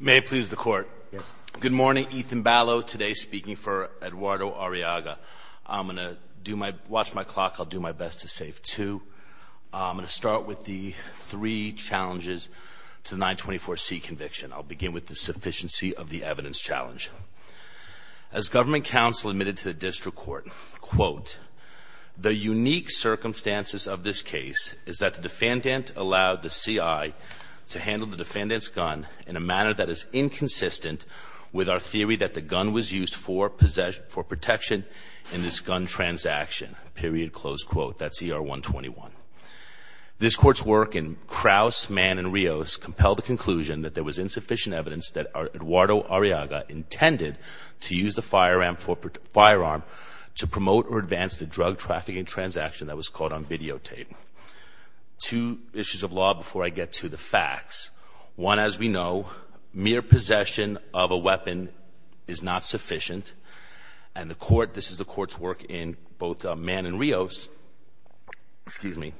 May it please the court. Good morning, Ethan Ballo, today speaking for Eduardo Arriaga. I'm going to do my watch my clock. I'll do my best to save two. I'm going to start with the three challenges to 924 C conviction. I'll begin with the sufficiency of the evidence challenge. As government counsel admitted to the district court, quote, the unique circumstances of this case is that the defendant allowed the CI to handle the defendant's gun in a way that would be unlawful. In a manner that is inconsistent with our theory that the gun was used for protection in this gun transaction, period, close quote. That's ER 121. This court's work in Crouse, Mann, and Rios compelled the conclusion that there was insufficient evidence that Eduardo Arriaga intended to use the firearm to promote or advance the drug trafficking transaction that was caught on videotape. Two issues of law before I get to the facts. One, as we know, mere possession of a weapon is not sufficient. And the court, this is the court's work in both Mann and Rios, excuse me.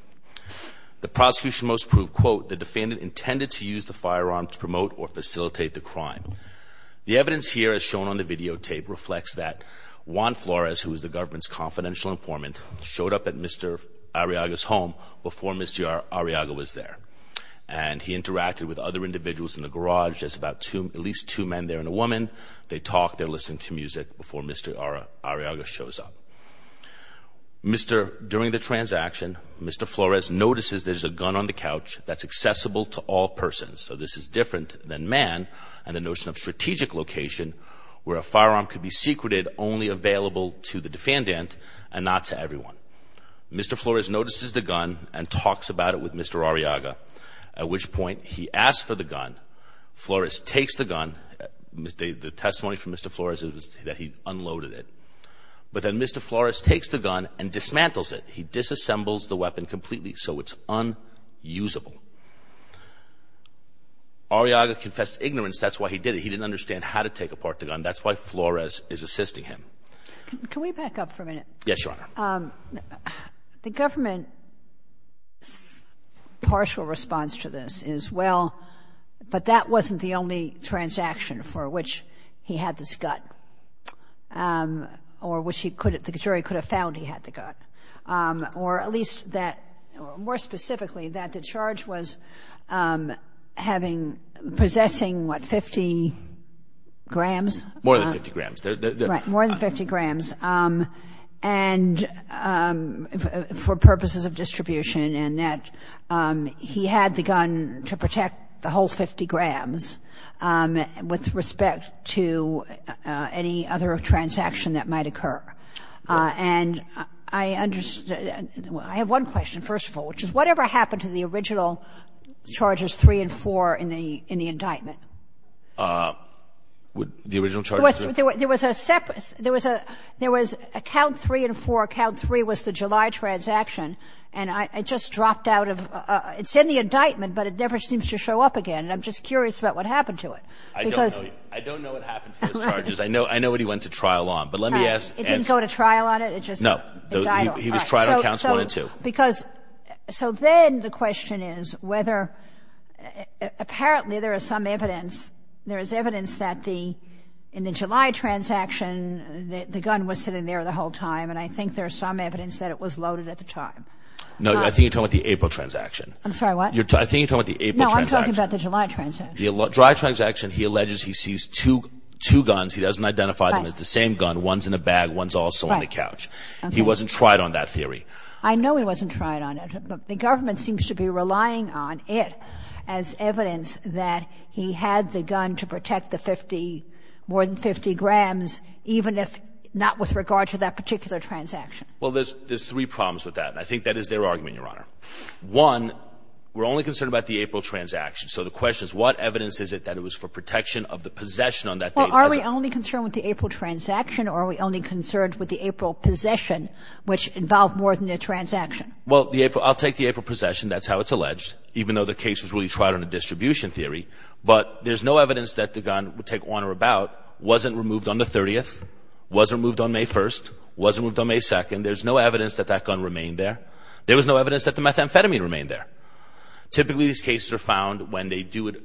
The prosecution must prove, quote, the defendant intended to use the firearm to promote or facilitate the crime. The evidence here as shown on the videotape reflects that Juan Flores, who is the government's confidential informant, showed up at Mr. Arriaga's home before Mr. Arriaga was there. And he interacted with other individuals in the garage. There's about two, at least two men there and a woman. They talked. They're listening to music before Mr. Arriaga shows up. During the transaction, Mr. Flores notices there's a gun on the couch that's accessible to all persons. So this is different than Mann and the notion of strategic location where a firearm could be secreted only available to the defendant and not to everyone. Mr. Flores notices the gun and talks about it with Mr. Arriaga, at which point he asks for the gun. Flores takes the gun. The testimony from Mr. Flores is that he unloaded it. But then Mr. Flores takes the gun and dismantles it. He disassembles the weapon completely so it's unusable. Arriaga confessed ignorance. That's why he did it. He didn't understand how to take apart the gun. That's why Flores is assisting him. Can we back up for a minute? Yes, Your Honor. The government partial response to this is, well, but that wasn't the only transaction for which he had this gun or which he could have, the jury could have found he had the gun. Or at least that, more specifically, that the charge was having, possessing what, 50 grams? More than 50 grams. Right, more than 50 grams. And for purposes of distribution and that, he had the gun to protect the whole 50 grams with respect to any other transaction that might occur. And I have one question, first of all, which is whatever happened to the original charges three and four in the indictment? The original charges? There was a separate, there was a count three and four. Count three was the July transaction. And I just dropped out of, it's in the indictment, but it never seems to show up again. And I'm just curious about what happened to it. I don't know what happened to those charges. I know what he went to trial on, but let me ask. It didn't go to trial on it? No. He was tried on counts one and two. So then the question is whether, apparently there is some evidence. There is evidence that the, in the July transaction, the gun was sitting there the whole time. And I think there's some evidence that it was loaded at the time. No, I think you're talking about the April transaction. I'm sorry, what? I think you're talking about the April transaction. No, I'm talking about the July transaction. The July transaction, he alleges he sees two guns. He doesn't identify them as the same gun. One's in a bag. One's also on the couch. He wasn't tried on that theory. I know he wasn't tried on it. But the government seems to be relying on it as evidence that he had the gun to protect the 50, more than 50 grams, even if not with regard to that particular transaction. Well, there's three problems with that. And I think that is their argument, Your Honor. One, we're only concerned about the April transaction. So the question is, what evidence is it that it was for protection of the possession on that date? Well, are we only concerned with the April transaction or are we only concerned with the April possession, which involved more than the transaction? Well, I'll take the April possession. That's how it's alleged, even though the case was really tried on a distribution theory. But there's no evidence that the gun, take on or about, wasn't removed on the 30th, wasn't removed on May 1st, wasn't removed on May 2nd. There's no evidence that that gun remained there. There was no evidence that the methamphetamine remained there. Typically, these cases are found when they do it.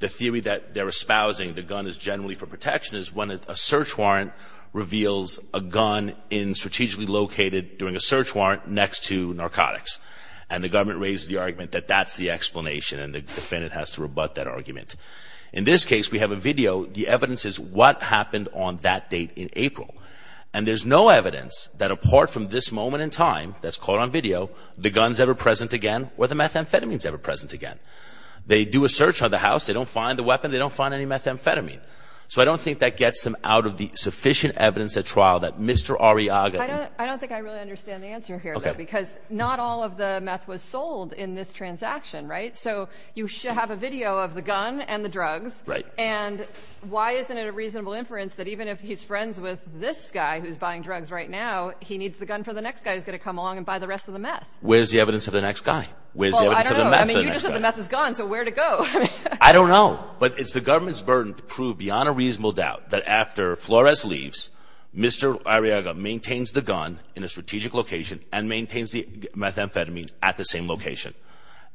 The theory that they're espousing the gun is generally for protection is when a search warrant reveals a gun strategically located during a search warrant next to narcotics. And the government raises the argument that that's the explanation, and the defendant has to rebut that argument. In this case, we have a video. The evidence is what happened on that date in April. And there's no evidence that apart from this moment in time that's caught on video, the gun's ever present again or the methamphetamine's ever present again. They do a search on the house. They don't find the weapon. They don't find any methamphetamine. So I don't think that gets them out of the sufficient evidence at trial that Mr. Arriaga I don't think I really understand the answer here, though, because not all of the meth was sold in this transaction, right? So you have a video of the gun and the drugs, and why isn't it a reasonable inference that even if he's friends with this guy who's buying drugs right now, he needs the gun for the next guy who's going to come along and buy the rest of the meth? Where's the evidence of the next guy? Well, I don't know. I mean, you just said the meth is gone, so where'd it go? I don't know. But it's the government's burden to prove beyond a reasonable doubt that after Flores leaves, Mr. Arriaga maintains the gun in a strategic location and maintains the methamphetamine at the same location.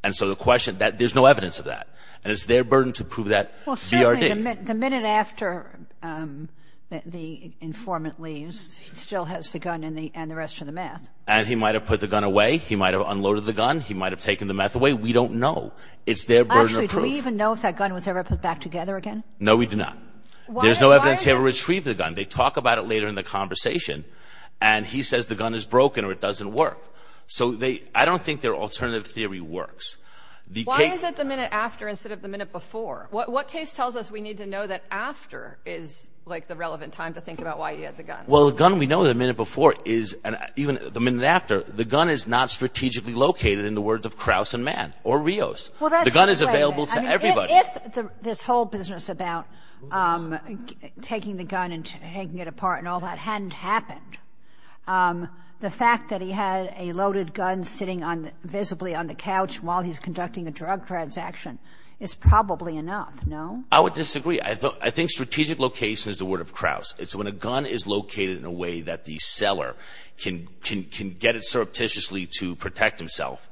And so the question that there's no evidence of that, and it's their burden to prove that BRD. Well, certainly the minute after the informant leaves, he still has the gun and the rest of the meth. And he might have put the gun away. He might have unloaded the gun. We don't know. It's their burden of proof. Do we even know if that gun was ever put back together again? No, we do not. There's no evidence he ever retrieved the gun. They talk about it later in the conversation, and he says the gun is broken or it doesn't work. So I don't think their alternative theory works. Why is it the minute after instead of the minute before? What case tells us we need to know that after is the relevant time to think about why he had the gun? Well, the gun we know the minute before is, even the minute after, the gun is not strategically located in the words of Krause and Mann or Rios. The gun is available to everybody. If this whole business about taking the gun and taking it apart and all that hadn't happened, the fact that he had a loaded gun sitting visibly on the couch while he's conducting a drug transaction is probably enough, no? I would disagree. I think strategic location is the word of Krause. It's when a gun is located in a way that the seller can get it surreptitiously to protect himself.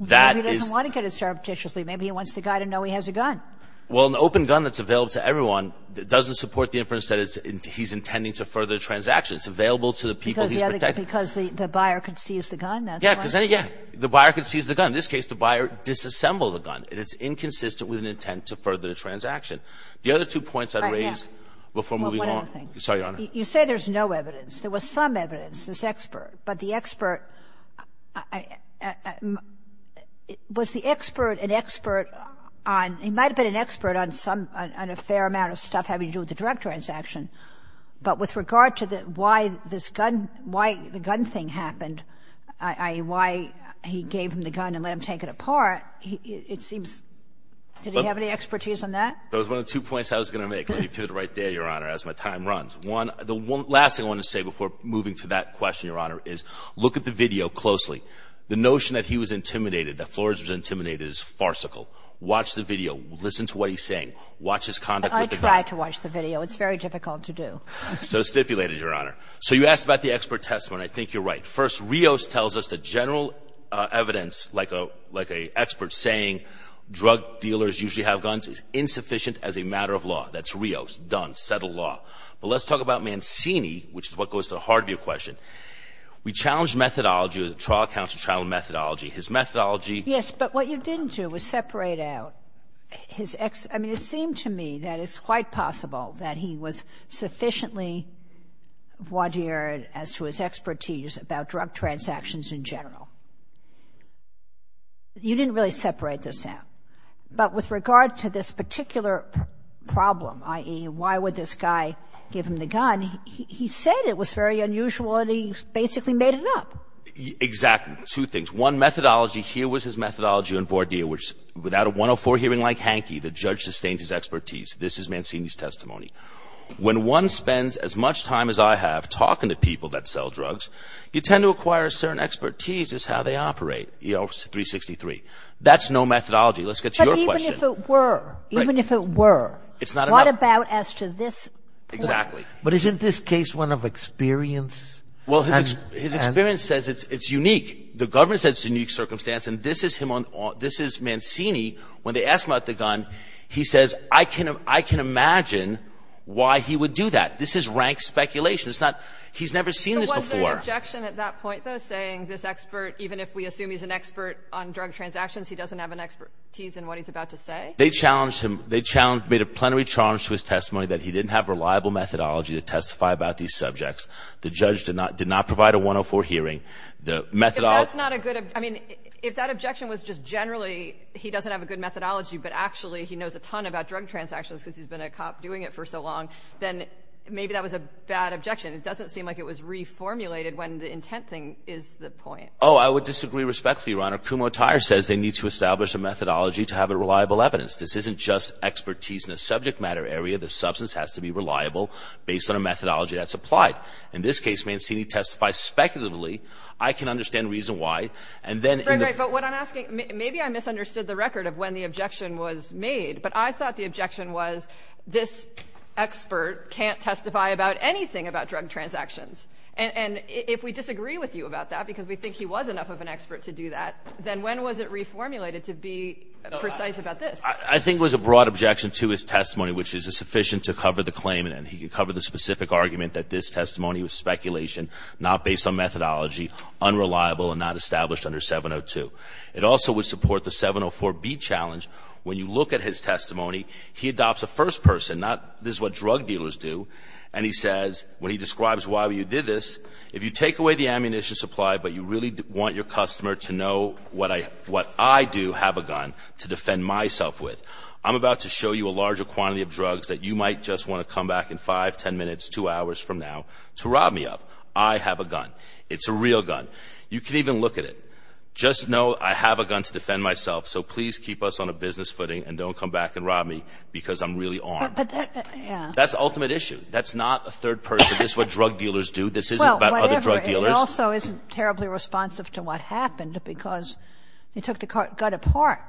That is the case. He doesn't want to get it surreptitiously. Maybe he wants the guy to know he has a gun. Well, an open gun that's available to everyone doesn't support the inference that he's intending to further the transaction. It's available to the people he's protecting. Because the buyer could seize the gun? That's right. Yes. The buyer could seize the gun. In this case, the buyer disassembled the gun, and it's inconsistent with an intent to further the transaction. The other two points I'd raise before moving on. One other thing. Sorry, Your Honor. You say there's no evidence. There was some evidence, this expert. But the expert, was the expert an expert on — he might have been an expert on some — on a fair amount of stuff having to do with the direct transaction. But with regard to why this gun — why the gun thing happened, i.e., why he gave him the gun and let him take it apart, it seems — did he have any expertise on that? Those were the two points I was going to make. Let me put it right there, Your Honor, as my time runs. The last thing I want to say before moving to that question, Your Honor, is look at the video closely. The notion that he was intimidated, that Flores was intimidated, is farcical. Watch the video. Listen to what he's saying. Watch his conduct with the gun. I tried to watch the video. It's very difficult to do. So stipulated, Your Honor. So you asked about the expert testimony. I think you're right. First, Rios tells us that general evidence, like an expert saying drug dealers usually have guns, is insufficient as a matter of law. That's Rios. Done. That's settled law. But let's talk about Mancini, which is what goes to the heart of your question. We challenged methodology, the trial counsel trial methodology. His methodology — Yes. But what you didn't do was separate out his — I mean, it seemed to me that it's quite possible that he was sufficiently voir dire as to his expertise about drug transactions in general. You didn't really separate this out. But with regard to this particular problem, i.e., why would this guy give him the gun, he said it was very unusual, and he basically made it up. Exactly. Two things. One, methodology. Here was his methodology on voir dire, which without a 104 hearing like Hanke, the judge sustains his expertise. This is Mancini's testimony. When one spends as much time as I have talking to people that sell drugs, you tend to acquire a certain expertise as how they operate, you know, 363. That's no methodology. Let's get to your question. But even if it were, even if it were, what about as to this point? Exactly. But isn't this case one of experience? Well, his experience says it's unique. The government says it's a unique circumstance, and this is him on — this is Mancini when they ask him about the gun. He says, I can imagine why he would do that. This is rank speculation. It's not — he's never seen this before. But wasn't there an objection at that point, though, saying this expert, even if we know he's an expert on drug transactions, he doesn't have an expertise in what he's about to say? They challenged him. They challenged — made a plenary challenge to his testimony that he didn't have reliable methodology to testify about these subjects. The judge did not provide a 104 hearing. The methodology — If that's not a good — I mean, if that objection was just generally he doesn't have a good methodology but actually he knows a ton about drug transactions because he's been a cop doing it for so long, then maybe that was a bad objection. It doesn't seem like it was reformulated when the intent thing is the point. Oh, I would disagree respectfully, Your Honor. Kumho Tyer says they need to establish a methodology to have reliable evidence. This isn't just expertise in a subject matter area. The substance has to be reliable based on a methodology that's applied. In this case, Mancini testifies speculatively. I can understand the reason why. And then in the — But what I'm asking — maybe I misunderstood the record of when the objection was made, but I thought the objection was this expert can't testify about anything about drug transactions. And if we disagree with you about that because we think he was enough of an expert to do that, then when was it reformulated to be precise about this? I think it was a broad objection to his testimony, which is sufficient to cover the claim and he could cover the specific argument that this testimony was speculation, not based on methodology, unreliable, and not established under 702. It also would support the 704B challenge. When you look at his testimony, he adopts a first person, not — this is what drug dealers do. If you did this, if you take away the ammunition supply but you really want your customer to know what I do have a gun to defend myself with, I'm about to show you a larger quantity of drugs that you might just want to come back in 5, 10 minutes, 2 hours from now to rob me of. I have a gun. It's a real gun. You can even look at it. Just know I have a gun to defend myself, so please keep us on a business footing and don't come back and rob me because I'm really armed. That's the ultimate issue. That's not a third person. This is what drug dealers do. This isn't about other drug dealers. Well, whatever. It also isn't terribly responsive to what happened because he took the gun apart.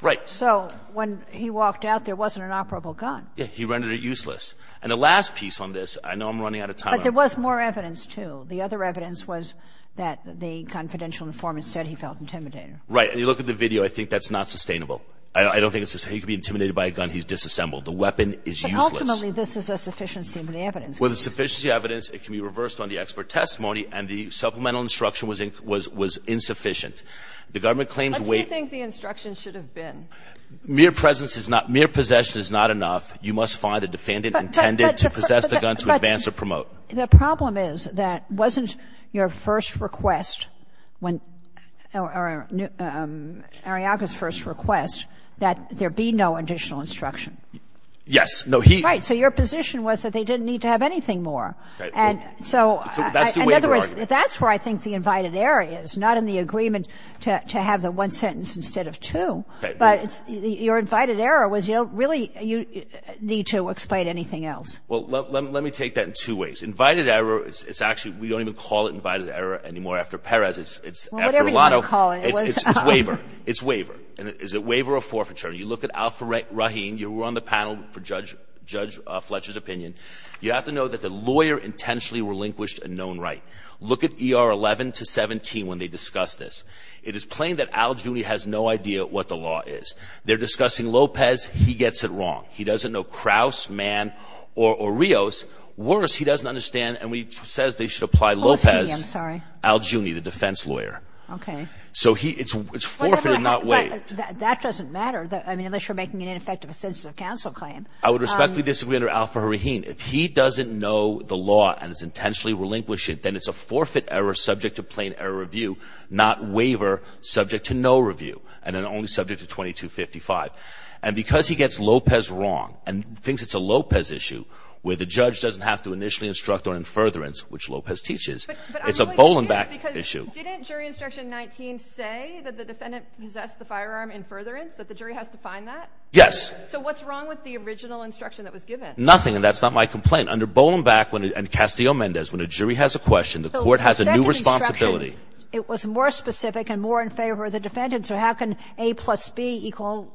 Right. So when he walked out, there wasn't an operable gun. Yeah. He rendered it useless. And the last piece on this, I know I'm running out of time. But there was more evidence, too. The other evidence was that the confidential informant said he felt intimidated. Right. And you look at the video. I think that's not sustainable. I don't think it's sustainable. He could be intimidated by a gun. He's disassembled. The weapon is useless. But ultimately, this is a sufficiency of the evidence. With the sufficiency of the evidence, it can be reversed on the expert testimony and the supplemental instruction was insufficient. The government claims weight. What do you think the instruction should have been? Mere presence is not – mere possession is not enough. You must find a defendant intended to possess the gun to advance or promote. But the problem is that wasn't your first request when – or Ariaka's first request that there be no additional instruction? Yes. No, he – Right. So your position was that they didn't need to have anything more. And so – That's the waiver argument. In other words, that's where I think the invited error is, not in the agreement to have the one sentence instead of two. But your invited error was you don't really need to explain anything else. Well, let me take that in two ways. Invited error is – it's actually – we don't even call it invited error anymore after Perez. It's – Well, whatever you want to call it. It was – It's waiver. It's waiver. And is it waiver or forfeiture? You look at Al-Rahim. You were on the panel for Judge Fletcher's opinion. You have to know that the lawyer intentionally relinquished a known right. Look at ER 11 to 17 when they discuss this. It is plain that Al Giugni has no idea what the law is. They're discussing Lopez. He gets it wrong. He doesn't know Krauss, Mann, or Rios. Worse, he doesn't understand, and he says they should apply Lopez – Oh, I see. I'm sorry. Al Giugni, the defense lawyer. Okay. So he – it's forfeited, not waived. But that doesn't matter. I mean, unless you're making an ineffective assistive counsel claim. I would respectfully disagree under Al-Rahim. If he doesn't know the law and is intentionally relinquishing it, then it's a forfeit error subject to plain error review, not waiver subject to no review, and then only subject to 2255. And because he gets Lopez wrong and thinks it's a Lopez issue, where the judge doesn't have to initially instruct on in furtherance, which Lopez teaches, it's a Bolenbach issue. Didn't jury instruction 19 say that the defendant possessed the firearm in furtherance, that the jury has to find that? Yes. So what's wrong with the original instruction that was given? Nothing, and that's not my complaint. Under Bolenbach and Castillo-Mendez, when a jury has a question, the court has a new responsibility. The second instruction, it was more specific and more in favor of the defendant. So how can A plus B equal zero?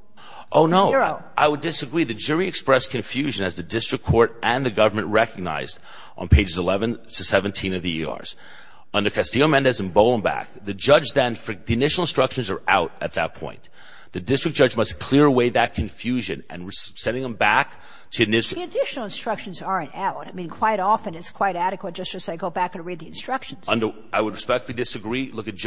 Oh, no. I would disagree. The jury expressed confusion as the district court and the government recognized on pages 11 to 17 of the ERs. Under Castillo-Mendez and Bolenbach, the judge then, the initial instructions are out at that point. The district judge must clear away that confusion, and sending them back to the district. The additional instructions aren't out. I mean, quite often it's quite adequate just to say go back and read the instructions. I would respectfully disagree. Look at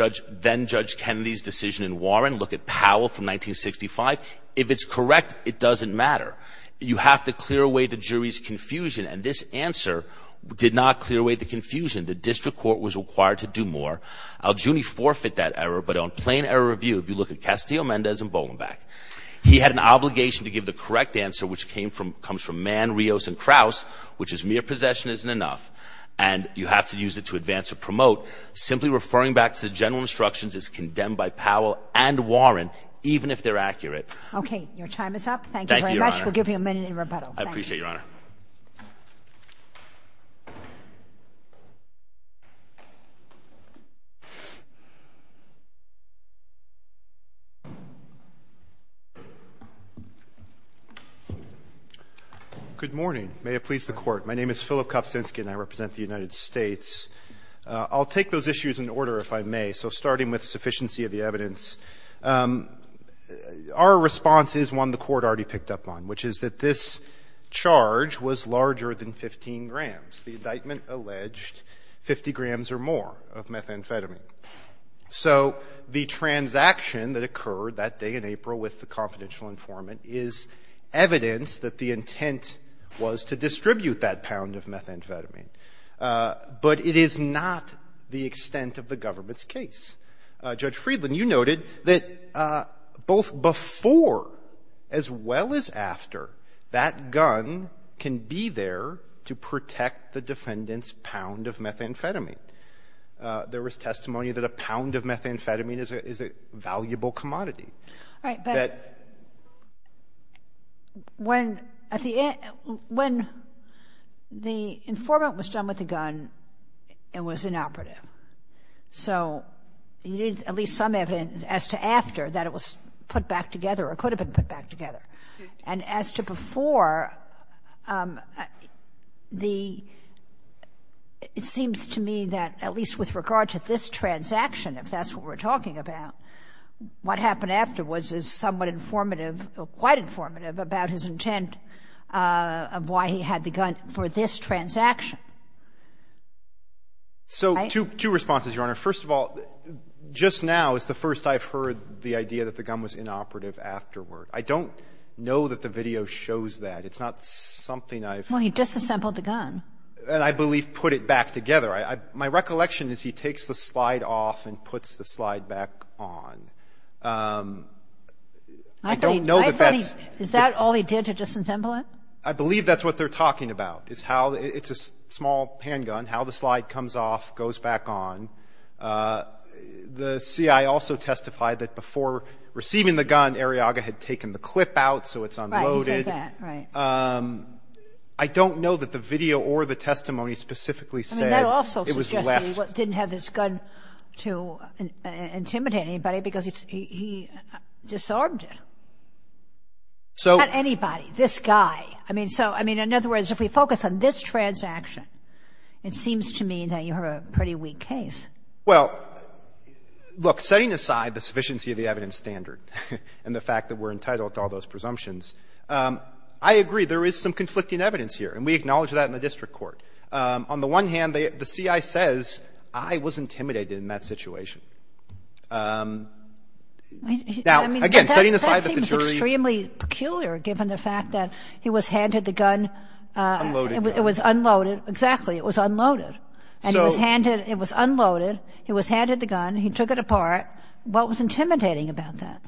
then-Judge Kennedy's decision in Warren. Look at Powell from 1965. If it's correct, it doesn't matter. You have to clear away the jury's confusion, and this answer did not clear away the confusion. The district court was required to do more. Al Giugni forfeit that error, but on plain error of view, if you look at Castillo-Mendez and Bolenbach, he had an obligation to give the correct answer, which comes from Mann, Rios, and Kraus, which is mere possession isn't enough, and you have to use it to advance or promote. Simply referring back to the general instructions is condemned by Powell and Warren, even if they're accurate. Your time is up. Thank you very much. We'll give you a minute in rebuttal. I appreciate it, Your Honor. Good morning. May it please the Court. My name is Philip Kopsinsky, and I represent the United States. I'll take those issues in order, if I may. So starting with sufficiency of the evidence, our response is one the Court already picked up on, which is that this charge was larger than 15 grams. The indictment alleged 50 grams or more of methamphetamine. So the transaction that occurred that day in April with the confidential informant is evidence that the intent was to distribute that pound of methamphetamine, but it is not the extent of the government's case. Judge Friedland, you noted that both before as well as after, that gun can be there to protect the defendant's pound of methamphetamine. There was testimony that a pound of methamphetamine is a valuable commodity. All right. But when the informant was done with the gun, it was inoperative. So you need at least some evidence as to after that it was put back together or could have been put back together. And as to before, the — it seems to me that at least with regard to this transaction, if that's what we're talking about, what happened afterwards is somewhat informative or quite informative about his intent of why he had the gun for this transaction. So two responses, Your Honor. First of all, just now is the first I've heard the idea that the gun was inoperative afterward. I don't know that the video shows that. It's not something I've — Well, he disassembled the gun. And I believe put it back together. My recollection is he takes the slide off and puts the slide back on. I don't know that that's — Is that all he did, to disassemble it? I believe that's what they're talking about, is how — It's a small handgun, how the slide comes off, goes back on. The CIA also testified that before receiving the gun, Arriaga had taken the clip out so it's unloaded. Right. You said that. Right. I don't know that the video or the testimony specifically said it was left. I mean, that also suggests he didn't have this gun to intimidate anybody because he disarmed it. So — Not anybody. This guy. I mean, so — I mean, in other words, if we focus on this transaction, it seems to me that you have a pretty weak case. Well, look, setting aside the sufficiency of the evidence standard and the fact that we're entitled to all those presumptions, I agree. There is some conflicting evidence here, and we acknowledge that in the district court. On the one hand, the CIA says I was intimidated in that situation. Now, again, setting aside that the jury — Unloaded gun. It was unloaded. Exactly. It was unloaded. And he was handed — it was unloaded. He was handed the gun. He took it apart. What was intimidating about that?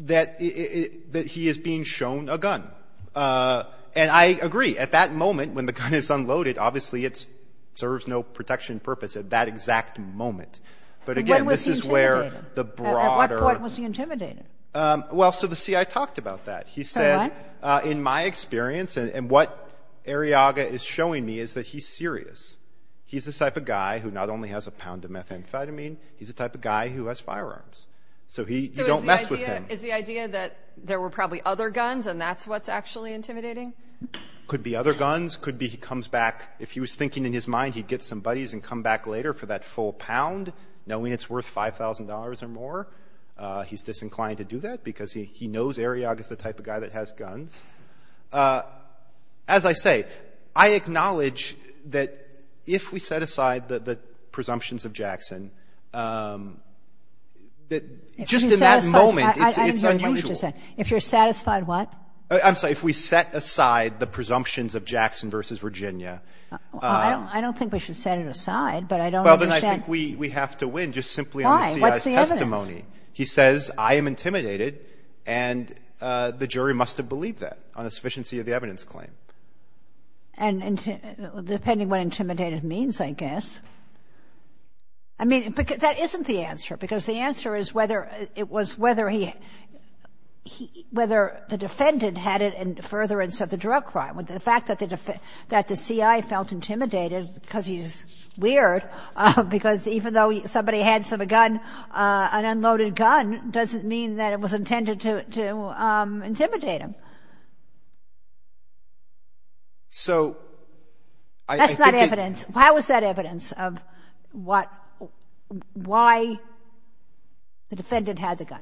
That he is being shown a gun. And I agree. At that moment, when the gun is unloaded, obviously it serves no protection purpose at that exact moment. But again, this is where the broader — When was he intimidated? At what point was he intimidated? Well, so the CIA talked about that. He said, in my experience — and what Arriaga is showing me is that he's serious. He's the type of guy who not only has a pound of methamphetamine, he's the type of guy who has firearms. So he — you don't mess with him. So is the idea that there were probably other guns, and that's what's actually intimidating? Could be other guns. Could be he comes back — if he was thinking in his mind he'd get some buddies and come back later for that full pound, knowing it's worth $5,000 or more. He's disinclined to do that because he knows Arriaga is the type of guy that has guns. As I say, I acknowledge that if we set aside the presumptions of Jackson, that just in that moment, it's unusual. I didn't hear what you just said. If you're satisfied what? I'm sorry. If we set aside the presumptions of Jackson versus Virginia — I don't think we should set it aside, but I don't understand — Well, then I think we have to win just simply on the CIA's testimony. He says, I am intimidated, and the jury must have believed that on the sufficiency of the evidence claim. And depending what intimidated means, I guess. I mean, that isn't the answer, because the answer is whether it was whether he — whether the defendant had it in furtherance of the drug crime. The fact that the CIA felt intimidated because he's weird, because even though somebody had a gun, an unloaded gun, doesn't mean that it was intended to intimidate him. So I think — That's not evidence. How is that evidence of what — why the defendant had the gun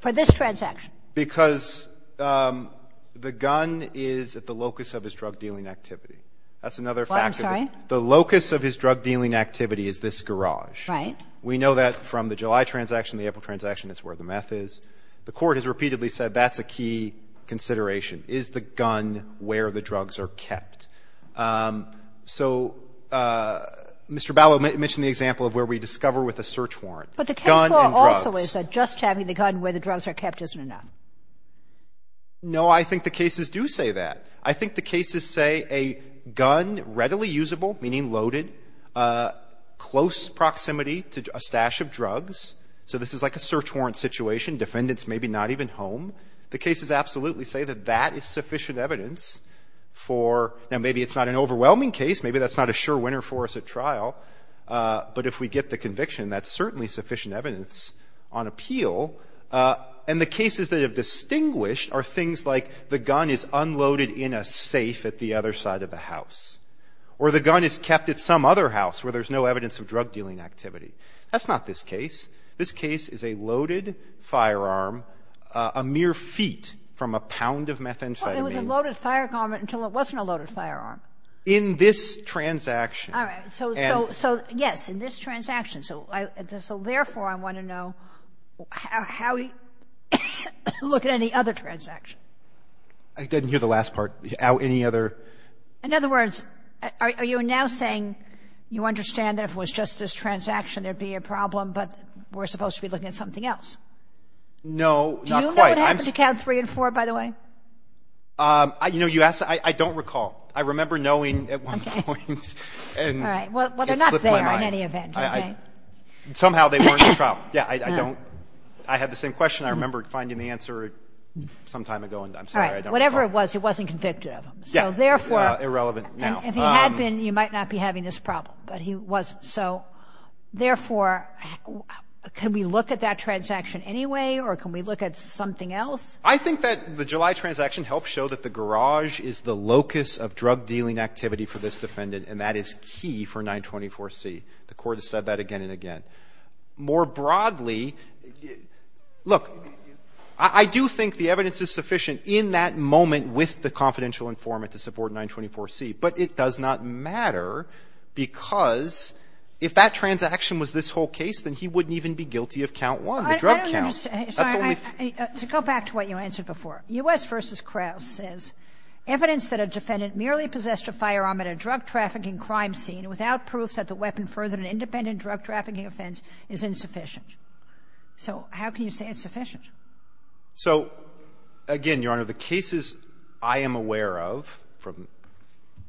for this transaction? Because the gun is at the locus of his drug-dealing activity. That's another fact of it. What? I'm sorry? The locus of his drug-dealing activity is this garage. Right. We know that from the July transaction, the April transaction, that's where the meth is. The Court has repeatedly said that's a key consideration. Is the gun where the drugs are kept? So Mr. Ballot mentioned the example of where we discover with a search warrant. Gun and drugs. But the case law also is that just having the gun where the drugs are kept isn't No. I think the cases do say that. I think the cases say a gun, readily usable, meaning loaded, close proximity to a stash of drugs. So this is like a search warrant situation. Defendants may be not even home. The cases absolutely say that that is sufficient evidence for — now, maybe it's not an overwhelming case. Maybe that's not a sure winner for us at trial. But if we get the conviction, that's certainly sufficient evidence on appeal. And the cases that have distinguished are things like the gun is unloaded in a safe at the other side of the house, or the gun is kept at some other house where there's no evidence of drug-dealing activity. That's not this case. This case is a loaded firearm, a mere feet from a pound of methamphetamine. Well, it was a loaded firearm until it wasn't a loaded firearm. In this transaction. All right. So, yes, in this transaction. So, therefore, I want to know how we look at any other transaction. I didn't hear the last part. How any other — In other words, are you now saying you understand that if it was just this transaction there would be a problem, but we're supposed to be looking at something else? No, not quite. Do you know what happened to count three and four, by the way? You know, you asked — I don't recall. I remember knowing at one point. All right. Well, they're not there in any event. Somehow they weren't in the trial. Yeah, I don't — I had the same question. I remember finding the answer some time ago, and I'm sorry. All right. Whatever it was, it wasn't convicted of him. So, therefore — Irrelevant now. If he had been, you might not be having this problem. But he wasn't. So, therefore, can we look at that transaction anyway, or can we look at something else? I think that the July transaction helps show that the garage is the locus of drug-dealing activity for this defendant, and that is key for 924C. The Court has said that again and again. More broadly, look, I do think the evidence is sufficient in that moment with the confidential informant to support 924C, but it does not matter because if that transaction was this whole case, then he wouldn't even be guilty of count one, the drug count. That's the only — I don't understand. Sorry. To go back to what you answered before, U.S. v. Krauss says, evidence that a defendant merely possessed a firearm at a drug-trafficking crime scene without proof that the weapon furthered an independent drug-trafficking offense is insufficient. So how can you say it's sufficient? So, again, Your Honor, the cases I am aware of,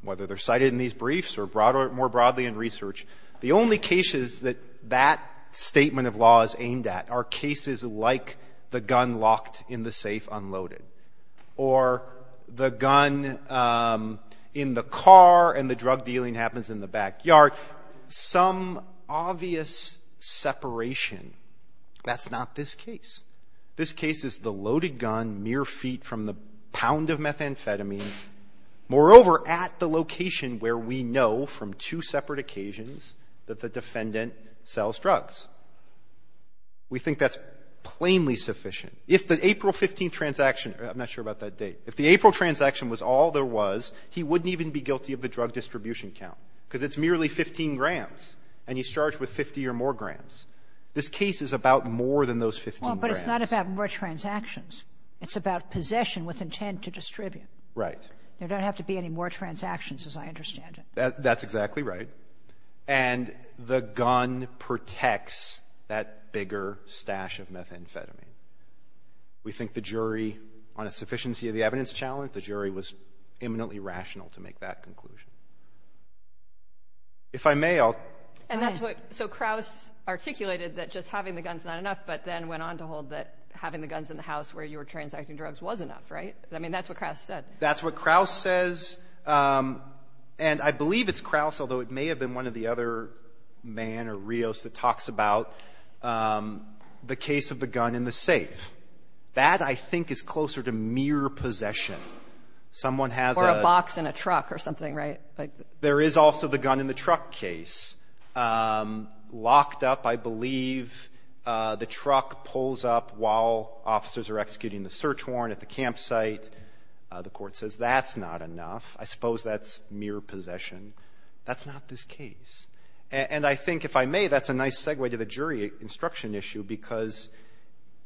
whether they're cited in these briefs or more broadly in research, the only cases that that statement of law is aimed at are cases like the gun locked in the safe unloaded or the gun in the car and the drug dealing happens in the backyard. Some obvious separation. That's not this case. This case is the loaded gun mere feet from the pound of methamphetamine, moreover, at the location where we know from two separate occasions that the defendant sells drugs. We think that's plainly sufficient. If the April 15th transaction — I'm not sure about that date. If the April transaction was all there was, he wouldn't even be guilty of the drug distribution count because it's merely 15 grams and he's charged with 50 or more grams. This case is about more than those 15 grams. But it's not about more transactions. It's about possession with intent to distribute. Right. There don't have to be any more transactions, as I understand it. That's exactly right. And the gun protects that bigger stash of methamphetamine. We think the jury, on a sufficiency of the evidence challenge, the jury was imminently rational to make that conclusion. If I may, I'll — And that's what — so Krauss articulated that just having the gun's not enough, but then went on to hold that having the guns in the house where you were transacting drugs was enough, right? I mean, that's what Krauss said. That's what Krauss says. And I believe it's Krauss, although it may have been one of the other men or Rios that talks about the case of the gun in the safe. That, I think, is closer to mere possession. Someone has a — Or a box in a truck or something, right? There is also the gun in the truck case. Locked up, I believe, the truck pulls up while officers are executing the search warrant at the campsite. The court says that's not enough. I suppose that's mere possession. That's not this case. And I think, if I may, that's a nice segue to the jury instruction issue, because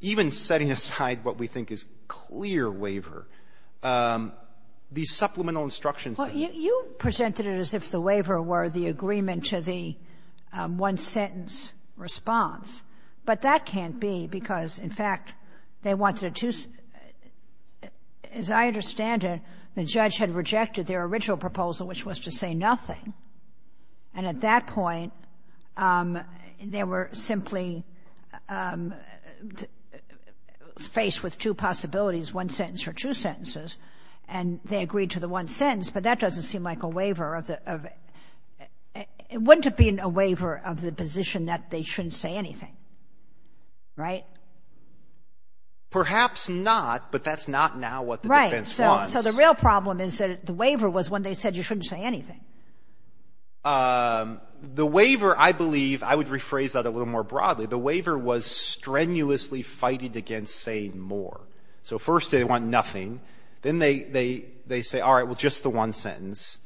even setting aside what we think is clear waiver, the supplemental instructions that — Well, you presented it as if the waiver were the agreement to the one-sentence response. But that can't be, because, in fact, they wanted a two — As I understand it, the judge had rejected their original proposal, which was to say nothing. And at that point, they were simply faced with two possibilities, one sentence or two sentences. And they agreed to the one sentence. But that doesn't seem like a waiver of the — Right? Perhaps not. But that's not now what the defense wants. Right. So the real problem is that the waiver was when they said you shouldn't say anything. The waiver, I believe — I would rephrase that a little more broadly. The waiver was strenuously fighting against saying more. So, first, they want nothing. Then they say, all right, well, just the one sentence.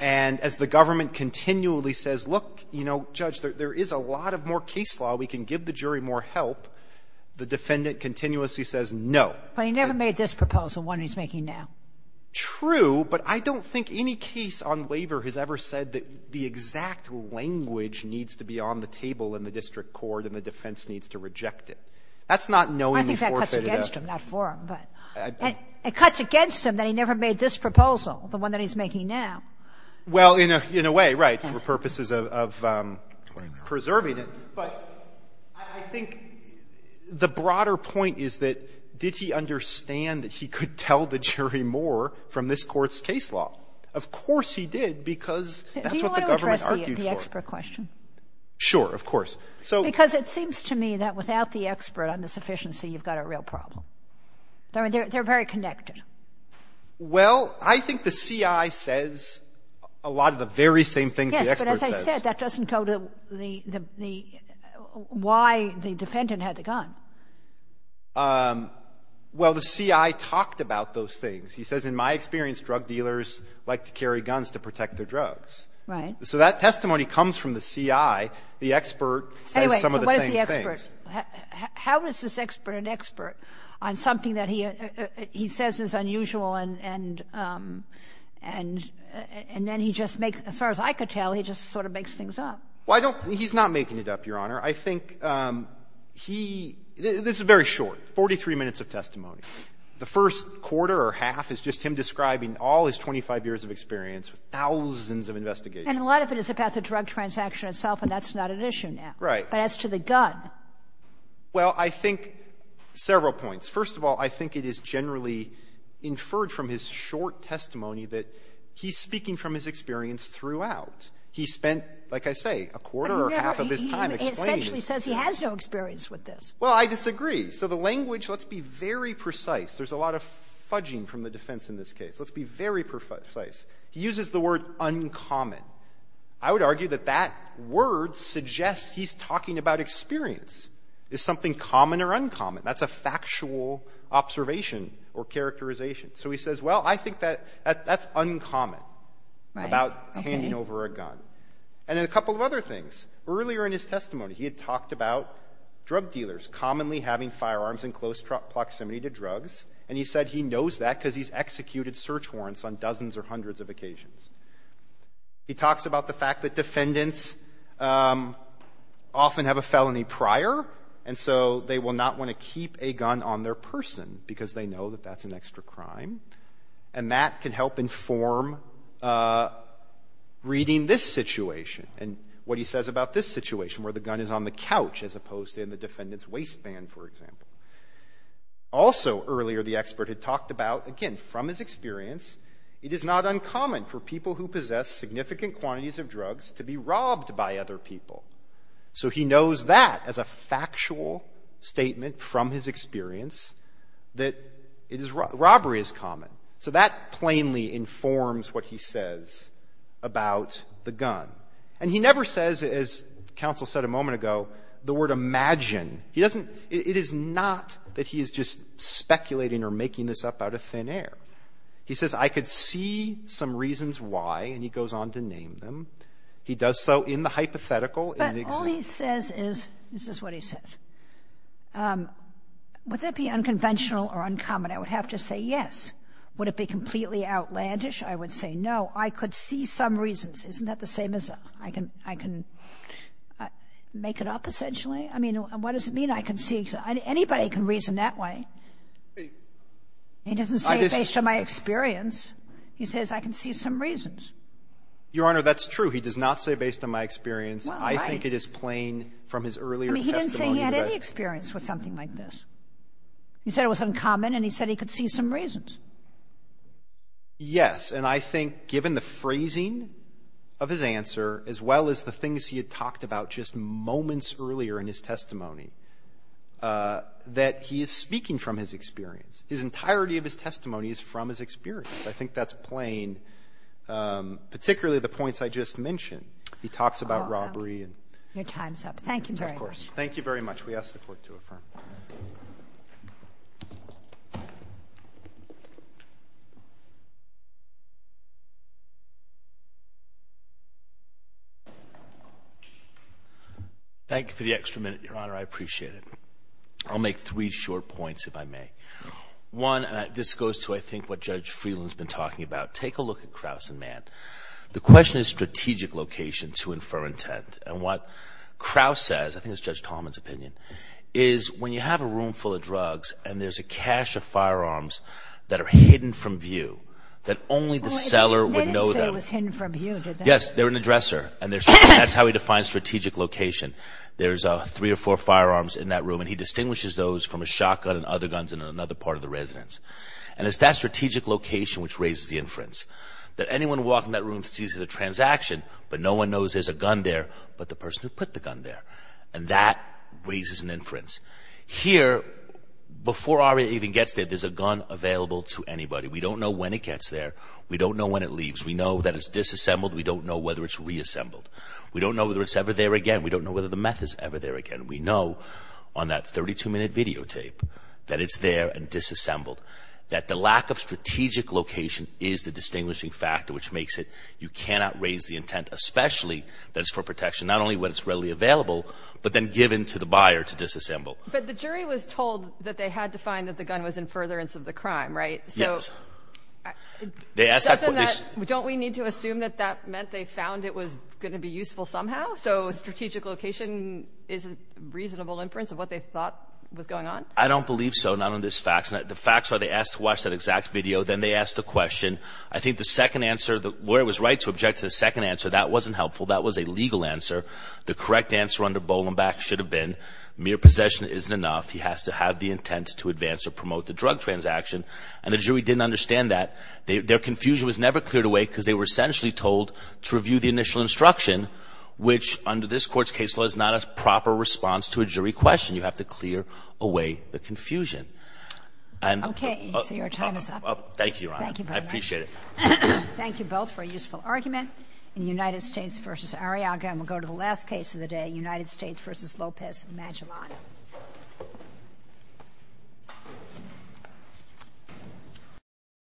And as the government continually says, look, you know, Judge, there is a lot of more case law. We can give the jury more help. The defendant continuously says no. But he never made this proposal, the one he's making now. True. But I don't think any case on waiver has ever said that the exact language needs to be on the table in the district court and the defense needs to reject it. That's not knowingly forfeited. I think that cuts against him, not for him. It cuts against him that he never made this proposal, the one that he's making now. Well, in a way, right, for purposes of preserving it. But I think the broader point is that did he understand that he could tell the jury more from this Court's case law? Of course he did, because that's what the government argued for. Do you want to address the expert question? Sure. Of course. Because it seems to me that without the expert on the sufficiency, you've got a real problem. I mean, they're very connected. Well, I think the CI says a lot of the very same things the expert says. That doesn't go to the why the defendant had the gun. Well, the CI talked about those things. He says, in my experience, drug dealers like to carry guns to protect their drugs. Right. So that testimony comes from the CI. The expert says some of the same things. Anyway, so where's the expert? How is this expert an expert on something that he says is unusual and then he just makes, as far as I could tell, he just sort of makes things up? Well, I don't think he's not making it up, Your Honor. I think he — this is very short, 43 minutes of testimony. The first quarter or half is just him describing all his 25 years of experience with thousands of investigations. And a lot of it is about the drug transaction itself, and that's not an issue now. Right. But as to the gun. Well, I think several points. First of all, I think it is generally inferred from his short testimony that he's experienced throughout. He spent, like I say, a quarter or half of his time explaining his experience. He essentially says he has no experience with this. Well, I disagree. So the language, let's be very precise. There's a lot of fudging from the defense in this case. Let's be very precise. He uses the word uncommon. I would argue that that word suggests he's talking about experience. Is something common or uncommon? That's a factual observation or characterization. So he says, well, I think that's uncommon about handing over a gun. And then a couple of other things. Earlier in his testimony, he had talked about drug dealers commonly having firearms in close proximity to drugs. And he said he knows that because he's executed search warrants on dozens or hundreds of occasions. He talks about the fact that defendants often have a felony prior, and so they will not want to keep a gun on their person because they know that that's an extra crime. And that can help inform reading this situation. And what he says about this situation where the gun is on the couch as opposed to in the defendant's waistband, for example. Also earlier, the expert had talked about, again, from his experience, it is not uncommon for people who possess significant quantities of drugs to be robbed by other people. So he knows that as a factual statement from his experience that robbery is common. So that plainly informs what he says about the gun. And he never says, as counsel said a moment ago, the word imagine. It is not that he is just speculating or making this up out of thin air. He says, I could see some reasons why, and he goes on to name them. He does so in the hypothetical. But all he says is, this is what he says. Would that be unconventional or uncommon? I would have to say yes. Would it be completely outlandish? I would say no. I could see some reasons. Isn't that the same as I can make it up, essentially? I mean, what does it mean I can see? Anybody can reason that way. He doesn't say it based on my experience. He says I can see some reasons. Your Honor, that's true. He does not say based on my experience. I think it is plain from his earlier testimony. He didn't say he had any experience with something like this. He said it was uncommon, and he said he could see some reasons. Yes. And I think given the phrasing of his answer, as well as the things he had talked about just moments earlier in his testimony, that he is speaking from his experience. His entirety of his testimony is from his experience. I think that's plain, particularly the points I just mentioned. He talks about robbery. Your time is up. Thank you very much. Thank you very much. We ask the Court to affirm. Thank you for the extra minute, Your Honor. I appreciate it. I'll make three short points, if I may. One, this goes to, I think, what Judge Friedland has been talking about. Take a look at Krauss and Mann. The question is strategic location to infer intent. And what Krauss says, I think it's Judge Tallman's opinion, is when you have a room full of drugs and there's a cache of firearms that are hidden from view, that only the seller would know them. They didn't say it was hidden from view, did they? Yes, they're an addresser, and that's how he defines strategic location. There's three or four firearms in that room, and he distinguishes those from a shotgun and other guns in another part of the residence. And it's that strategic location which raises the inference. That anyone walking in that room sees there's a transaction, but no one knows there's a gun there but the person who put the gun there. And that raises an inference. Here, before ARIA even gets there, there's a gun available to anybody. We don't know when it gets there. We don't know when it leaves. We know that it's disassembled. We don't know whether it's reassembled. We don't know whether it's ever there again. We don't know whether the meth is ever there again. We know on that 32-minute videotape that it's there and disassembled, that the lack of strategic location is the distinguishing factor which makes it you cannot raise the intent, especially that it's for protection. Not only when it's readily available, but then given to the buyer to disassemble. But the jury was told that they had to find that the gun was in furtherance of the crime, right? Yes. Doesn't that – don't we need to assume that that meant they found it was going to be useful somehow? So strategic location is a reasonable inference of what they thought was going on? I don't believe so. Not on this fact. The facts are they asked to watch that exact video. Then they asked a question. I think the second answer, where it was right to object to the second answer, that wasn't helpful. That was a legal answer. The correct answer under Bolenback should have been mere possession isn't enough. He has to have the intent to advance or promote the drug transaction. And the jury didn't understand that. Their confusion was never cleared away because they were essentially told to review the initial instruction, which under this Court's case law is not a proper response to a jury question. You have to clear away the confusion. Okay. So your time is up. Thank you, Your Honor. Thank you very much. I appreciate it. Thank you both for a useful argument in United States v. Arriaga. And we'll go to the last case of the day, United States v. Lopez Magellan.